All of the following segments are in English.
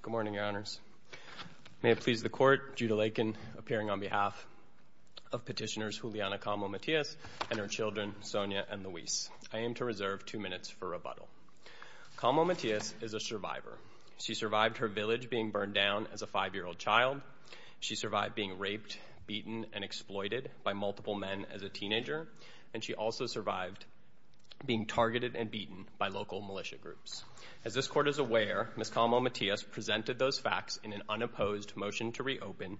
Good morning, Your Honors. May it please the Court, Judah Lakin, appearing on behalf of Petitioners Juliana Calmo Matias and her children, Sonia and Luis, I aim to reserve two minutes for rebuttal. Calmo Matias is a survivor. She survived her village being burned down as a five-year-old child. She survived being raped, beaten, and exploited by multiple men as a teenager, and she also survived being targeted and beaten by local militia groups. As this Court is aware, Ms. Calmo Matias presented those facts in an unopposed motion to reopen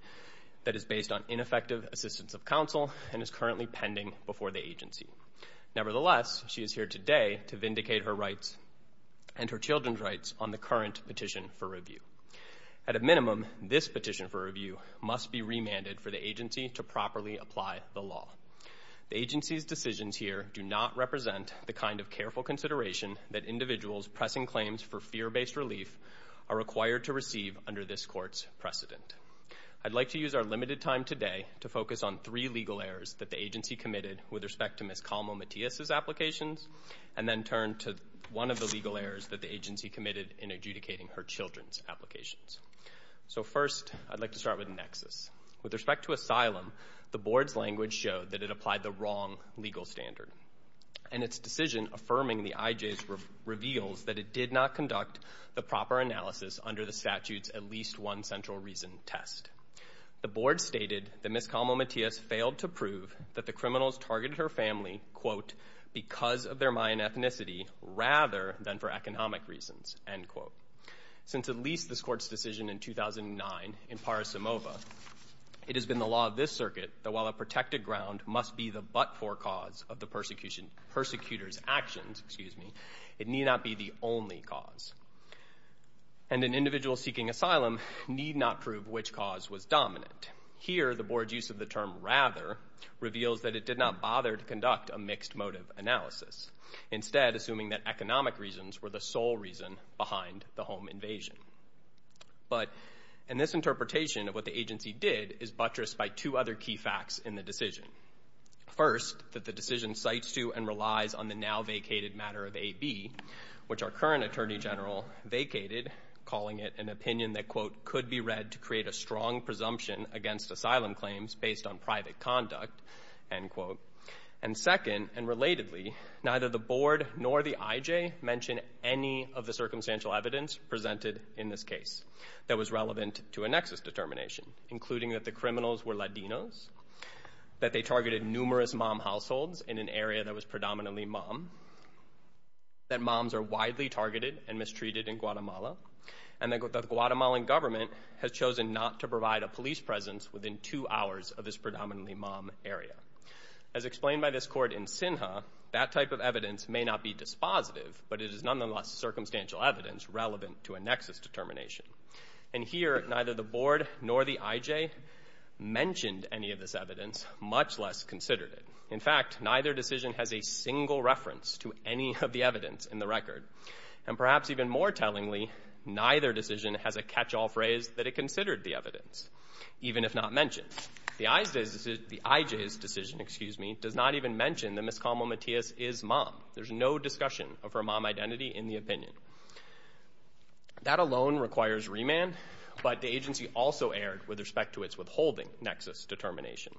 that is based on ineffective assistance of counsel and is currently pending before the agency. Nevertheless, she is here today to vindicate her rights and her children's rights on the current petition for review. At a minimum, this petition for review must be remanded for the agency to properly apply the law. The agency's decisions here do not represent the kind of careful consideration that individuals pressing claims for fear-based relief are required to receive under this Court's precedent. I'd like to use our limited time today to focus on three legal errors that the agency committed with respect to Ms. Calmo Matias' applications and then turn to one of the legal errors in Ms. Calmo Matias' applications. So first, I'd like to start with Nexus. With respect to asylum, the Board's language showed that it applied the wrong legal standard, and its decision affirming the IJs reveals that it did not conduct the proper analysis under the statute's at least one central reason test. The Board stated that Ms. Calmo Matias failed to prove that the criminals targeted her family because of their Mayan ethnicity rather than for economic reasons. Since at least this Court's decision in 2009 in Parasimova, it has been the law of this circuit that while a protected ground must be the but-for cause of the persecutor's actions, it need not be the only cause. And an individual seeking asylum need not prove which cause was dominant. Here, the Board's use of the term rather reveals that it did not bother to conduct a mixed motive analysis, instead assuming that economic reasons were the sole reason behind the home invasion. But in this interpretation of what the agency did is buttressed by two other key facts in the decision. First, that the decision cites to and relies on the now vacated matter of AB, which our current Attorney General vacated, calling it an opinion that, quote, could be read to against asylum claims based on private conduct, end quote. And second, and relatedly, neither the Board nor the IJ mention any of the circumstantial evidence presented in this case that was relevant to a nexus determination, including that the criminals were Latinos, that they targeted numerous mom households in an area that was predominantly mom, that moms are widely targeted and mistreated in Guatemala, and that the two hours of this predominantly mom area. As explained by this court in SINHA, that type of evidence may not be dispositive, but it is nonetheless circumstantial evidence relevant to a nexus determination. And here, neither the Board nor the IJ mentioned any of this evidence, much less considered it. In fact, neither decision has a single reference to any of the evidence in the record. And perhaps even more tellingly, neither decision has a catch-all phrase that it considered the evidence, even if not mentioned. The IJ's decision, excuse me, does not even mention that Ms. Camo-Mateas is mom. There's no discussion of her mom identity in the opinion. That alone requires remand, but the agency also erred with respect to its withholding nexus determination.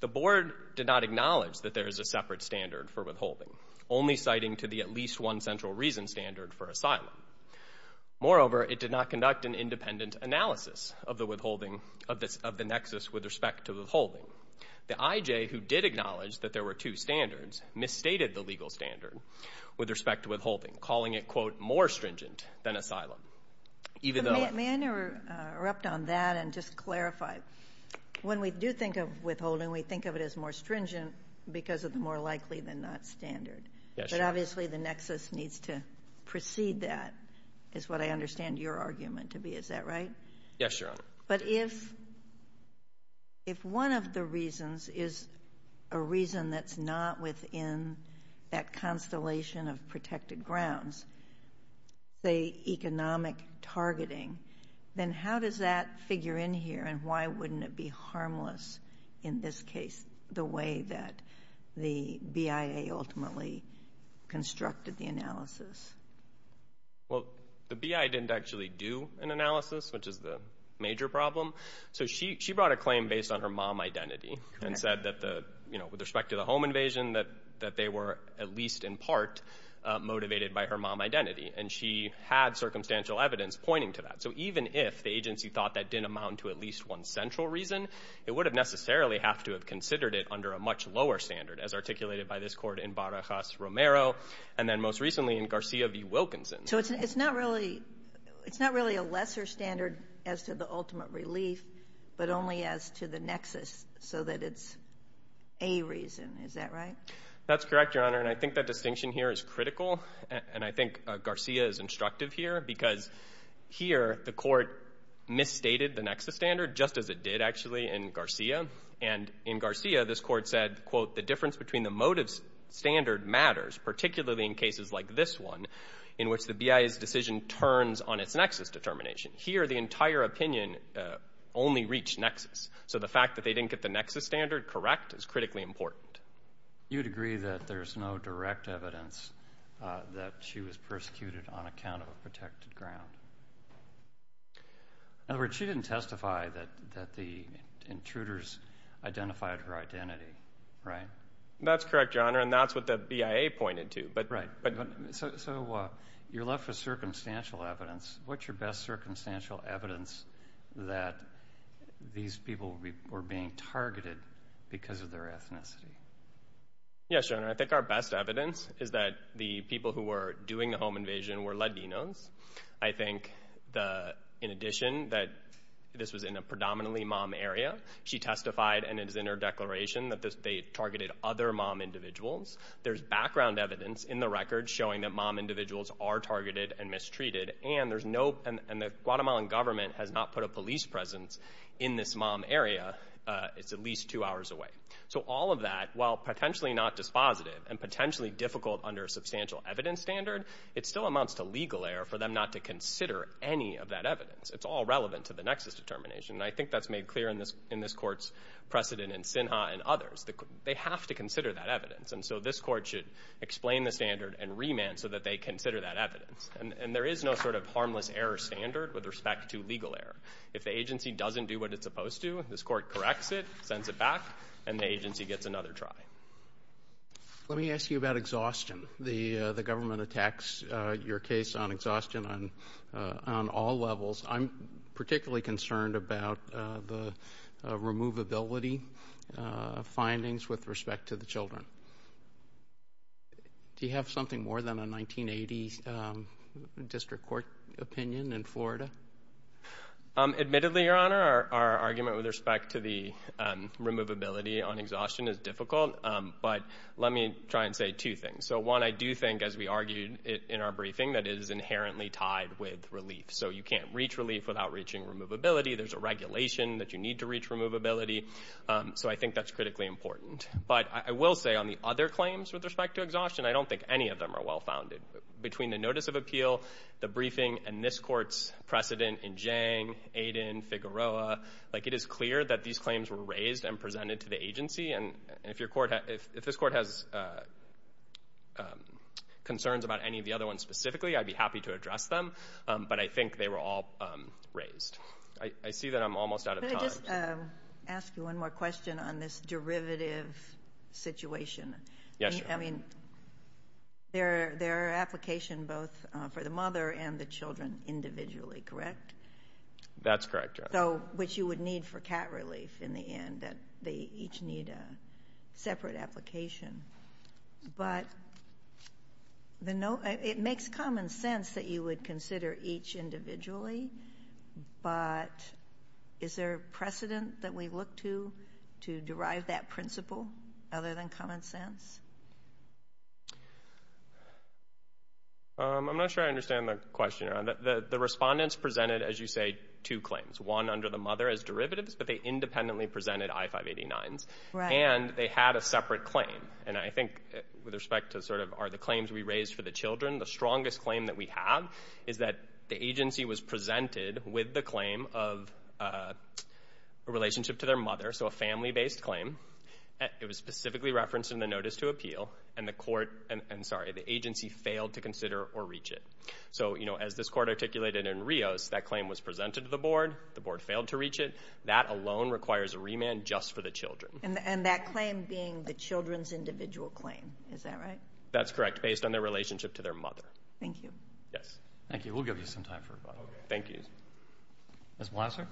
The Board did not acknowledge that there is a separate standard for withholding, only citing to the at least one central reason standard for asylum. Moreover, it did not conduct an independent analysis of the withholding of the nexus with respect to withholding. The IJ, who did acknowledge that there were two standards, misstated the legal standard with respect to withholding, calling it, quote, more stringent than asylum. Even though... May I interrupt on that and just clarify? When we do think of withholding, we think of it as more stringent because of the more likely than not standard. Yes, Your Honor. But obviously, the nexus needs to precede that, is what I understand your argument to be. Is that right? Yes, Your Honor. But if one of the reasons is a reason that's not within that constellation of protected grounds, say economic targeting, then how does that figure in here and why wouldn't it be harmless in this case, the way that the BIA ultimately constructed the analysis? Well, the BIA didn't actually do an analysis, which is the major problem. So she brought a claim based on her mom identity and said that the, you know, with respect to the home invasion, that they were at least in part motivated by her mom identity. And she had circumstantial evidence pointing to that. So even if the agency thought that didn't amount to at least one central reason, it would have necessarily have to have considered it under a much lower standard, as articulated by this court in Barajas-Romero, and then most recently in Garcia v. Wilkinson. So it's not really a lesser standard as to the ultimate relief, but only as to the nexus so that it's a reason, is that right? That's correct, Your Honor. And I think that distinction here is critical. And I think Garcia is instructive here, because here the court misstated the nexus standard, just as it did actually in Garcia. And in Garcia, this court said, quote, the difference between the motive standard matters, particularly in cases like this one, in which the BIA's decision turns on its nexus determination. Here the entire opinion only reached nexus. So the fact that they didn't get the nexus standard correct is critically important. You'd agree that there's no direct evidence that she was persecuted on account of a protected ground. In other words, she didn't testify that the intruders identified her identity, right? That's correct, Your Honor. And that's what the BIA pointed to. Right. So you're left with circumstantial evidence. What's your best circumstantial evidence that these people were being targeted because of their ethnicity? Yes, Your Honor. I think our best evidence is that the people who were doing the home invasion were Latinos. I think, in addition, that this was in a predominantly mom area. She testified, and it is in her declaration, that they targeted other mom individuals. There's background evidence in the record showing that mom individuals are targeted and mistreated. And the Guatemalan government has not put a police presence in this mom area. It's at least two hours away. So all of that, while potentially not dispositive and potentially difficult under a substantial evidence standard, it still amounts to legal error for them not to consider any of that evidence. It's all relevant to the nexus determination. And I think that's made clear in this court's precedent in Sinha and others. They have to consider that evidence. And so this court should explain the standard and remand so that they consider that evidence. And there is no sort of harmless error standard with respect to legal error. If the agency doesn't do what it's supposed to, this court corrects it, sends it back, and the agency gets another try. Let me ask you about exhaustion. The government attacks your case on exhaustion on all levels. I'm particularly concerned about the removability findings with respect to the children. Do you have something more than a 1980 district court opinion in Florida? Admittedly, Your Honor, our argument with respect to the removability on exhaustion is difficult. But let me try and say two things. So one, I do think, as we argued in our briefing, that it is inherently tied with relief. So you can't reach relief without reaching removability. There's a regulation that you need to reach removability. So I think that's critically important. But I will say, on the other claims with respect to exhaustion, I don't think any of them are well-founded. Between the notice of appeal, the briefing, and this court's precedent in Jang, Aiden, Figueroa, it is clear that these claims were raised and presented to the agency. And if this court has concerns about any of the other ones specifically, I'd be happy to address them. But I think they were all raised. I see that I'm almost out of time. Could I just ask you one more question on this derivative situation? Yes, Your Honor. I mean, there are applications both for the mother and the children individually, correct? That's correct, Your Honor. So, which you would need for cat relief in the end, that they each need a separate application. But, it makes common sense that you would consider each individually, but is there precedent that we look to, to derive that principle, other than common sense? I'm not sure I understand the question, Your Honor. The respondents presented, as you say, two claims. One under the mother as derivatives, but they independently presented I-589s. And they had a separate claim. And I think with respect to sort of, are the claims we raised for the children, the strongest claim that we have is that the agency was presented with the claim of a relationship to their mother, so a family-based claim. It was specifically referenced in the notice to appeal, and the agency failed to consider or reach it. So, you know, as this court articulated in Rios, that claim was presented to the board, the board failed to reach it, that alone requires a remand just for the children. And that claim being the children's individual claim, is that right? That's correct, based on their relationship to their mother. Thank you. Yes. Thank you. We'll give you some time for rebuttal. Okay. Thank you. Ms. Blosser?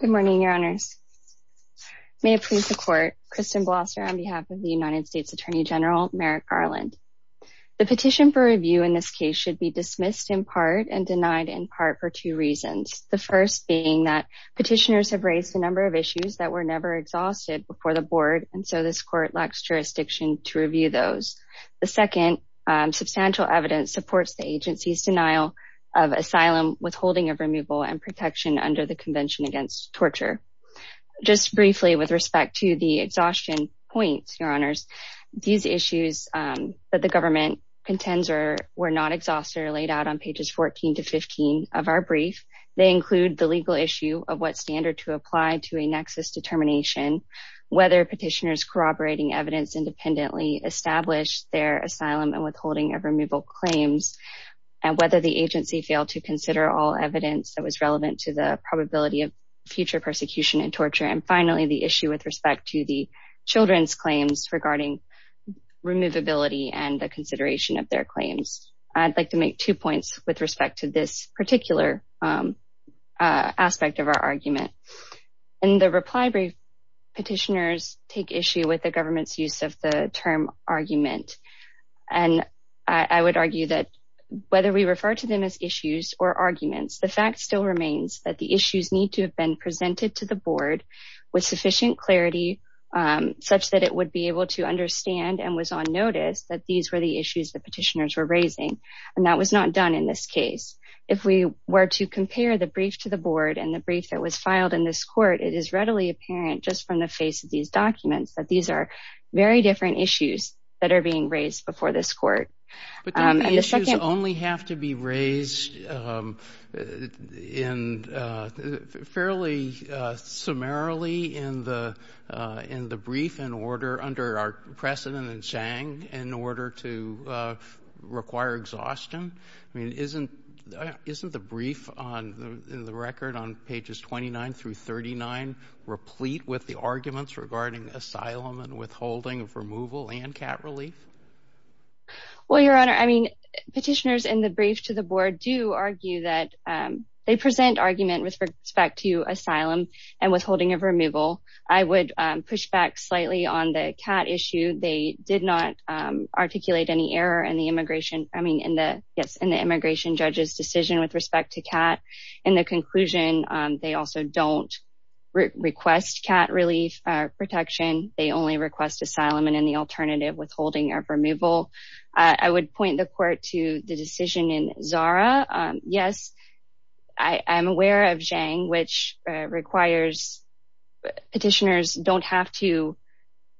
Good morning, Your Honors. May it please the Court, Kristen Blosser on behalf of the United States Attorney General Merrick Garland. The petition for review in this case should be dismissed in part and denied in part for two reasons. The first being that petitioners have raised a number of issues that were never exhausted before the board, and so this court lacks jurisdiction to review those. The second, substantial evidence supports the agency's denial of asylum, withholding of removal, and protection under the Convention Against Torture. Just briefly with respect to the exhaustion points, Your Honors, these issues that the government contends were not exhausted are laid out on pages 14 to 15 of our brief. They include the legal issue of what standard to apply to a nexus determination, whether petitioners corroborating evidence independently established their asylum and withholding of removal claims, and whether the agency failed to consider all evidence that was relevant to the probability of future persecution and torture, and finally, the issue with respect to the children's claims regarding removability and the consideration of their claims. I'd like to make two points with respect to this particular aspect of our argument. In the reply brief, petitioners take issue with the government's use of the term argument, and I would argue that whether we refer to them as issues or arguments, the fact still remains that the issues need to have been presented to the board with sufficient clarity such that it would be able to understand and was on notice that these were the issues the board was raising, and that was not done in this case. If we were to compare the brief to the board and the brief that was filed in this court, it is readily apparent just from the face of these documents that these are very different issues that are being raised before this court. But then the issues only have to be raised in fairly summarily in the brief and order under our precedent and saying in order to require exhaustion, I mean, isn't the brief on the record on pages 29 through 39 replete with the arguments regarding asylum and withholding of removal and cat relief? Well, Your Honor, I mean, petitioners in the brief to the board do argue that they present argument with respect to asylum and withholding of removal. I would push back slightly on the cat issue. They did not articulate any error in the immigration, I mean, yes, in the immigration judge's decision with respect to cat. In the conclusion, they also don't request cat relief protection. They only request asylum and any alternative withholding of removal. I would point the court to the decision in Zara. Yes, I'm aware of Zhang, which requires petitioners don't have to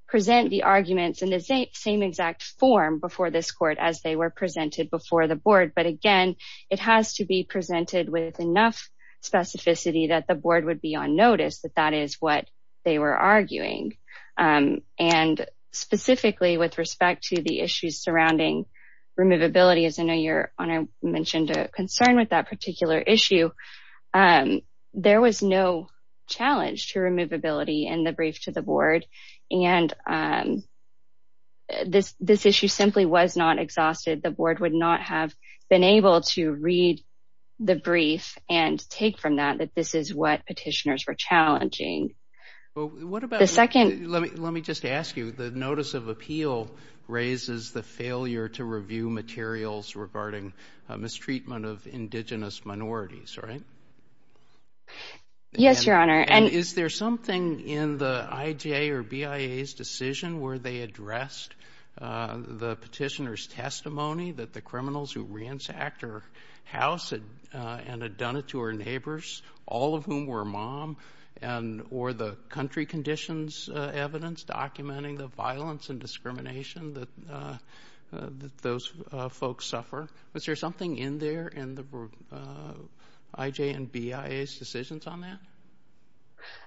present the arguments in the same exact form before this court as they were presented before the board. But again, it has to be presented with enough specificity that the board would be on notice that that is what they were arguing. And specifically with respect to the issues surrounding removability, as I know Your Honor mentioned a concern with that particular issue, there was no challenge to removability in the brief to the board. And this issue simply was not exhausted. The board would not have been able to read the brief and take from that that this is what petitioners were challenging. What about the second? Let me just ask you, the notice of appeal raises the failure to review materials regarding mistreatment of indigenous minorities, right? Yes, Your Honor. And is there something in the IJ or BIA's decision where they addressed the petitioner's testimony that the criminals who ransacked her house and had done it to her neighbors, all of whom were mom and or the country conditions evidence documenting the violence and discrimination that those folks suffer? Was there something in there in the IJ and BIA's decisions on that?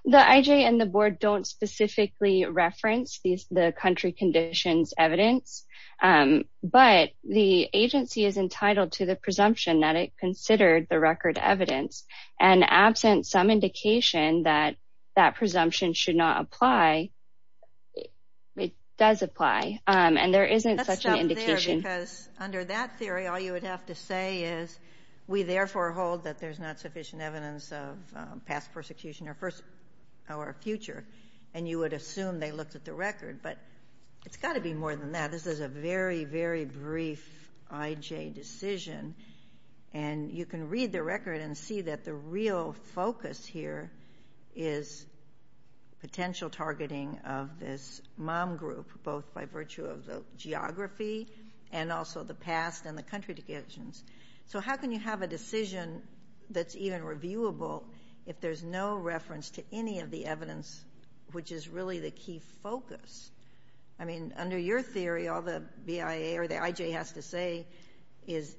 The IJ and the board don't specifically reference the country conditions evidence. But the agency is entitled to the presumption that it considered the record evidence and absent some indication that that presumption should not apply, it does apply. And there isn't such an indication. Because under that theory, all you would have to say is, we therefore hold that there's not sufficient evidence of past persecution or future. And you would assume they looked at the record. But it's got to be more than that. This is a very, very brief IJ decision. And you can read the record and see that the real focus here is potential targeting of this mom group, both by virtue of the geography and also the past and the country conditions. So how can you have a decision that's even reviewable if there's no reference to any of the evidence, which is really the key focus? I mean, under your theory, all the BIA or the IJ has to say is,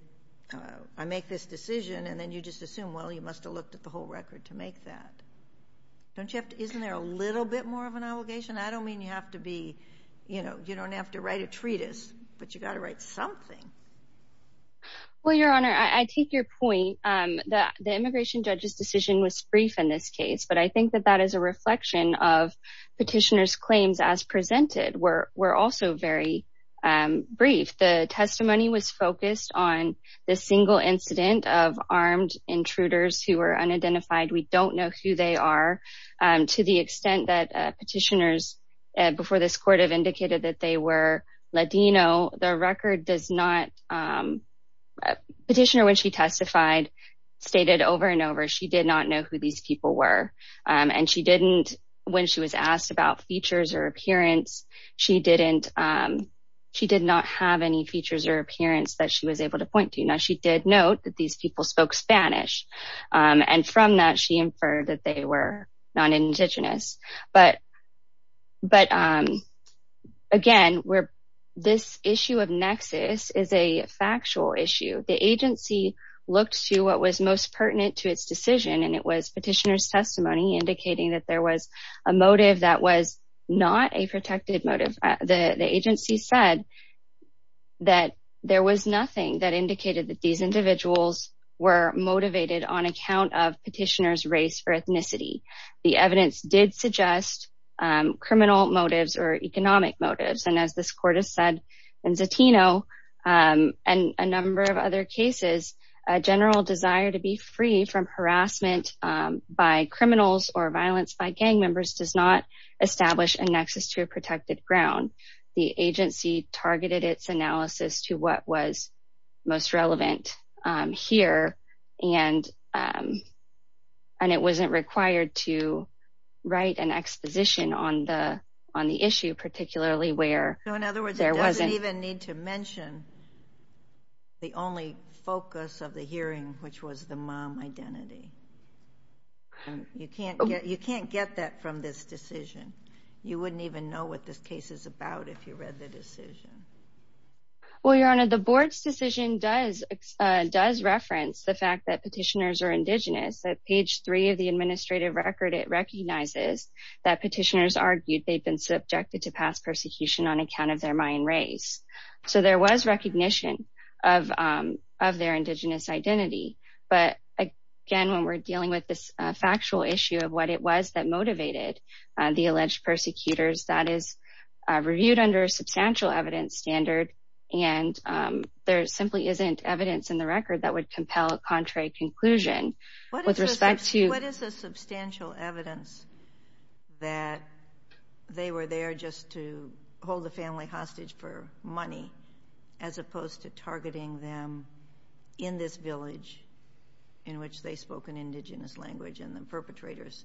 I make this decision and then you just assume, well, you must have looked at the whole record to make that. Don't you have to, isn't there a little bit more of an obligation? I don't mean you have to be, you know, you don't have to write a treatise, but you got to write something. Well, Your Honor, I take your point that the immigration judge's decision was brief in this case. But I think that that is a reflection of petitioner's claims as presented were also very brief. The testimony was focused on the single incident of armed intruders who were unidentified. We don't know who they are. To the extent that petitioners before this court have indicated that they were Ladino, the record does not. Petitioner, when she testified, stated over and over she did not know who these people were. And she didn't, when she was asked about features or appearance, she didn't, she did not have any features or appearance that she was able to point to. Now, she did note that these people spoke Spanish. And from that, she inferred that they were non-Indigenous. But again, this issue of nexus is a factual issue. The agency looked to what was most pertinent to its decision, and it was petitioner's testimony indicating that there was a motive that was not a protected motive. The agency said that there was nothing that indicated that these individuals were motivated on account of petitioner's race or ethnicity. The evidence did suggest criminal motives or economic motives. And as this court has said in Zatino and a number of other cases, a general desire to be free from harassment by the agency targeted its analysis to what was most relevant here. And, and it wasn't required to write an exposition on the, on the issue, particularly where there wasn't even need to mention the only focus of the hearing, which was the mom identity. You can't get, you can't get that from this decision. You wouldn't even know what this case is about if you read the decision. Well, Your Honor, the board's decision does, does reference the fact that petitioners are Indigenous. At page three of the administrative record, it recognizes that petitioners argued they'd been subjected to past persecution on account of their Mayan race. So there was recognition of, of their Indigenous identity. But again, when we're dealing with this factual issue of what it was that motivated the alleged persecutors, that is reviewed under a substantial evidence standard. And there simply isn't evidence in the record that would compel a contrary conclusion with respect to. What is the substantial evidence that they were there just to hold the family hostage for money as opposed to targeting them in this village in which they spoke an Indigenous language and the perpetrators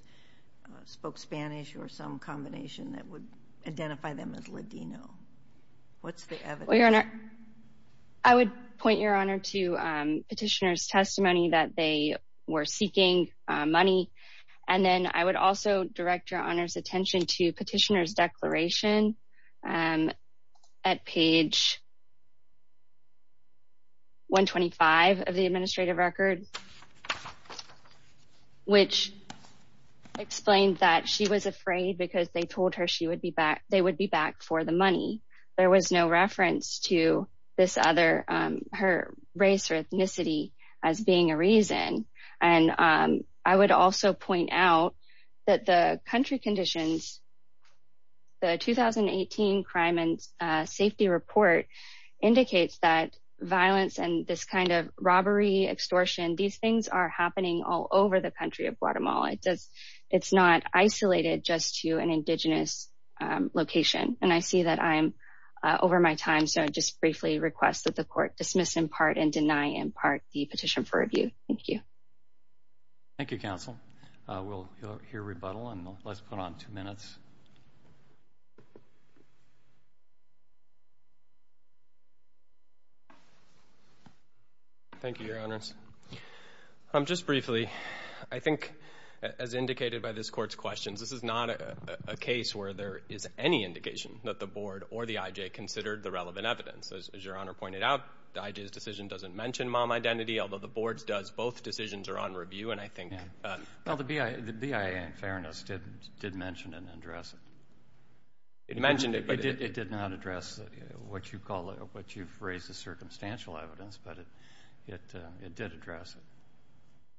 spoke Spanish or some combination that would identify them as Ladino? What's the evidence? I would point, Your Honor, to petitioner's testimony that they were seeking money. And then I would also direct Your Honor's attention to petitioner's declaration at page. 125 of the administrative record. Which explained that she was afraid because they told her she would be back, they would be back for the money. There was no reference to this other, her race or ethnicity as being a reason. And I would also point out that the country conditions. The 2018 Crime and Safety Report indicates that violence and this kind of robbery, extortion, these things are happening all over the country of Guatemala. It's not isolated just to an Indigenous location. And I see that I'm over my time. So I just briefly request that the court dismiss in part and deny in part the petition for review. Thank you. Thank you, counsel. We'll hear rebuttal and let's put on two minutes. Thank you, Your Honors. Just briefly, I think as indicated by this court's questions, this is not a case where there is any indication that the board or the IJ considered the relevant evidence. As Your Honor pointed out, the IJ's decision doesn't mention mom identity, although the board's does. Well, the BIA, in fairness, did mention and address it. It mentioned it, but it did not address what you've raised as circumstantial evidence, but it did address it.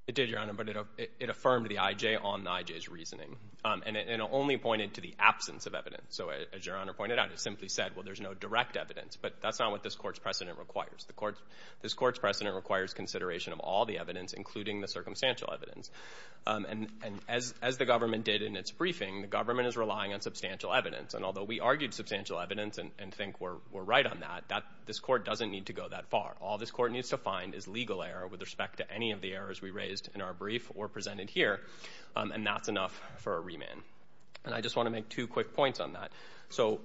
It did, Your Honor, but it affirmed the IJ on the IJ's reasoning and it only pointed to the absence of evidence. So as Your Honor pointed out, it simply said, well, there's no direct evidence. But that's not what this court's precedent requires. This court's precedent requires consideration of all the evidence, including the circumstantial evidence. And as the government did in its briefing, the government is relying on substantial evidence. And although we argued substantial evidence and think we're right on that, this court doesn't need to go that far. All this court needs to find is legal error with respect to any of the errors we raised in our brief or presented here. And that's enough for a remand. And I just want to make two quick points on that. So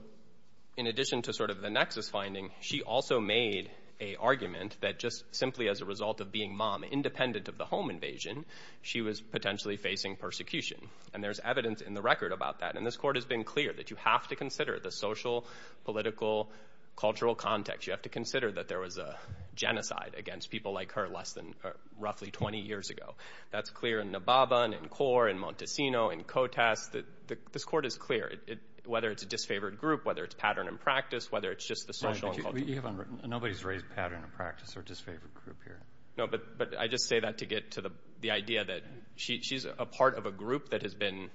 in addition to sort of the nexus finding, she also made a argument that just simply as a result of being mom independent of the home invasion, she was potentially facing persecution. And there's evidence in the record about that. And this court has been clear that you have to consider the social, political, cultural context. You have to consider that there was a genocide against people like her less than roughly 20 years ago. That's clear in Nababa, in CORE, in Montesino, in COTAS, that this court is clear. Whether it's a disfavored group, whether it's pattern and practice, whether it's just the social and cultural. Nobody's raised pattern and practice or disfavored group here. No, but I just say that to get to the idea that she's a part of a group that has been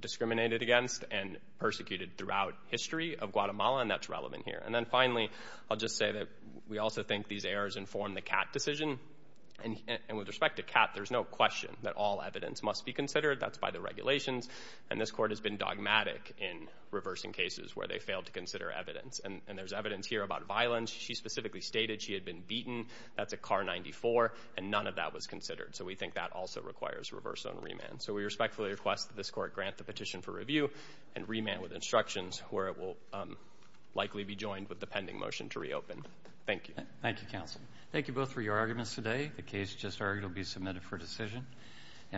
discriminated against and persecuted throughout history of Guatemala. And that's relevant here. And then finally, I'll just say that we also think these errors inform the Catt decision. And with respect to Catt, there's no question that all evidence must be considered. That's by the regulations. And this court has been dogmatic in reversing cases where they failed to consider evidence. And there's evidence here about violence. She specifically stated she had been beaten. That's a CAR 94. And none of that was considered. So we think that also requires reverse zone remand. So we respectfully request that this court grant the petition for review and remand with instructions where it will likely be joined with the pending motion to reopen. Thank you. Thank you, counsel. Thank you both for your arguments today. The case just argued will be submitted for decision.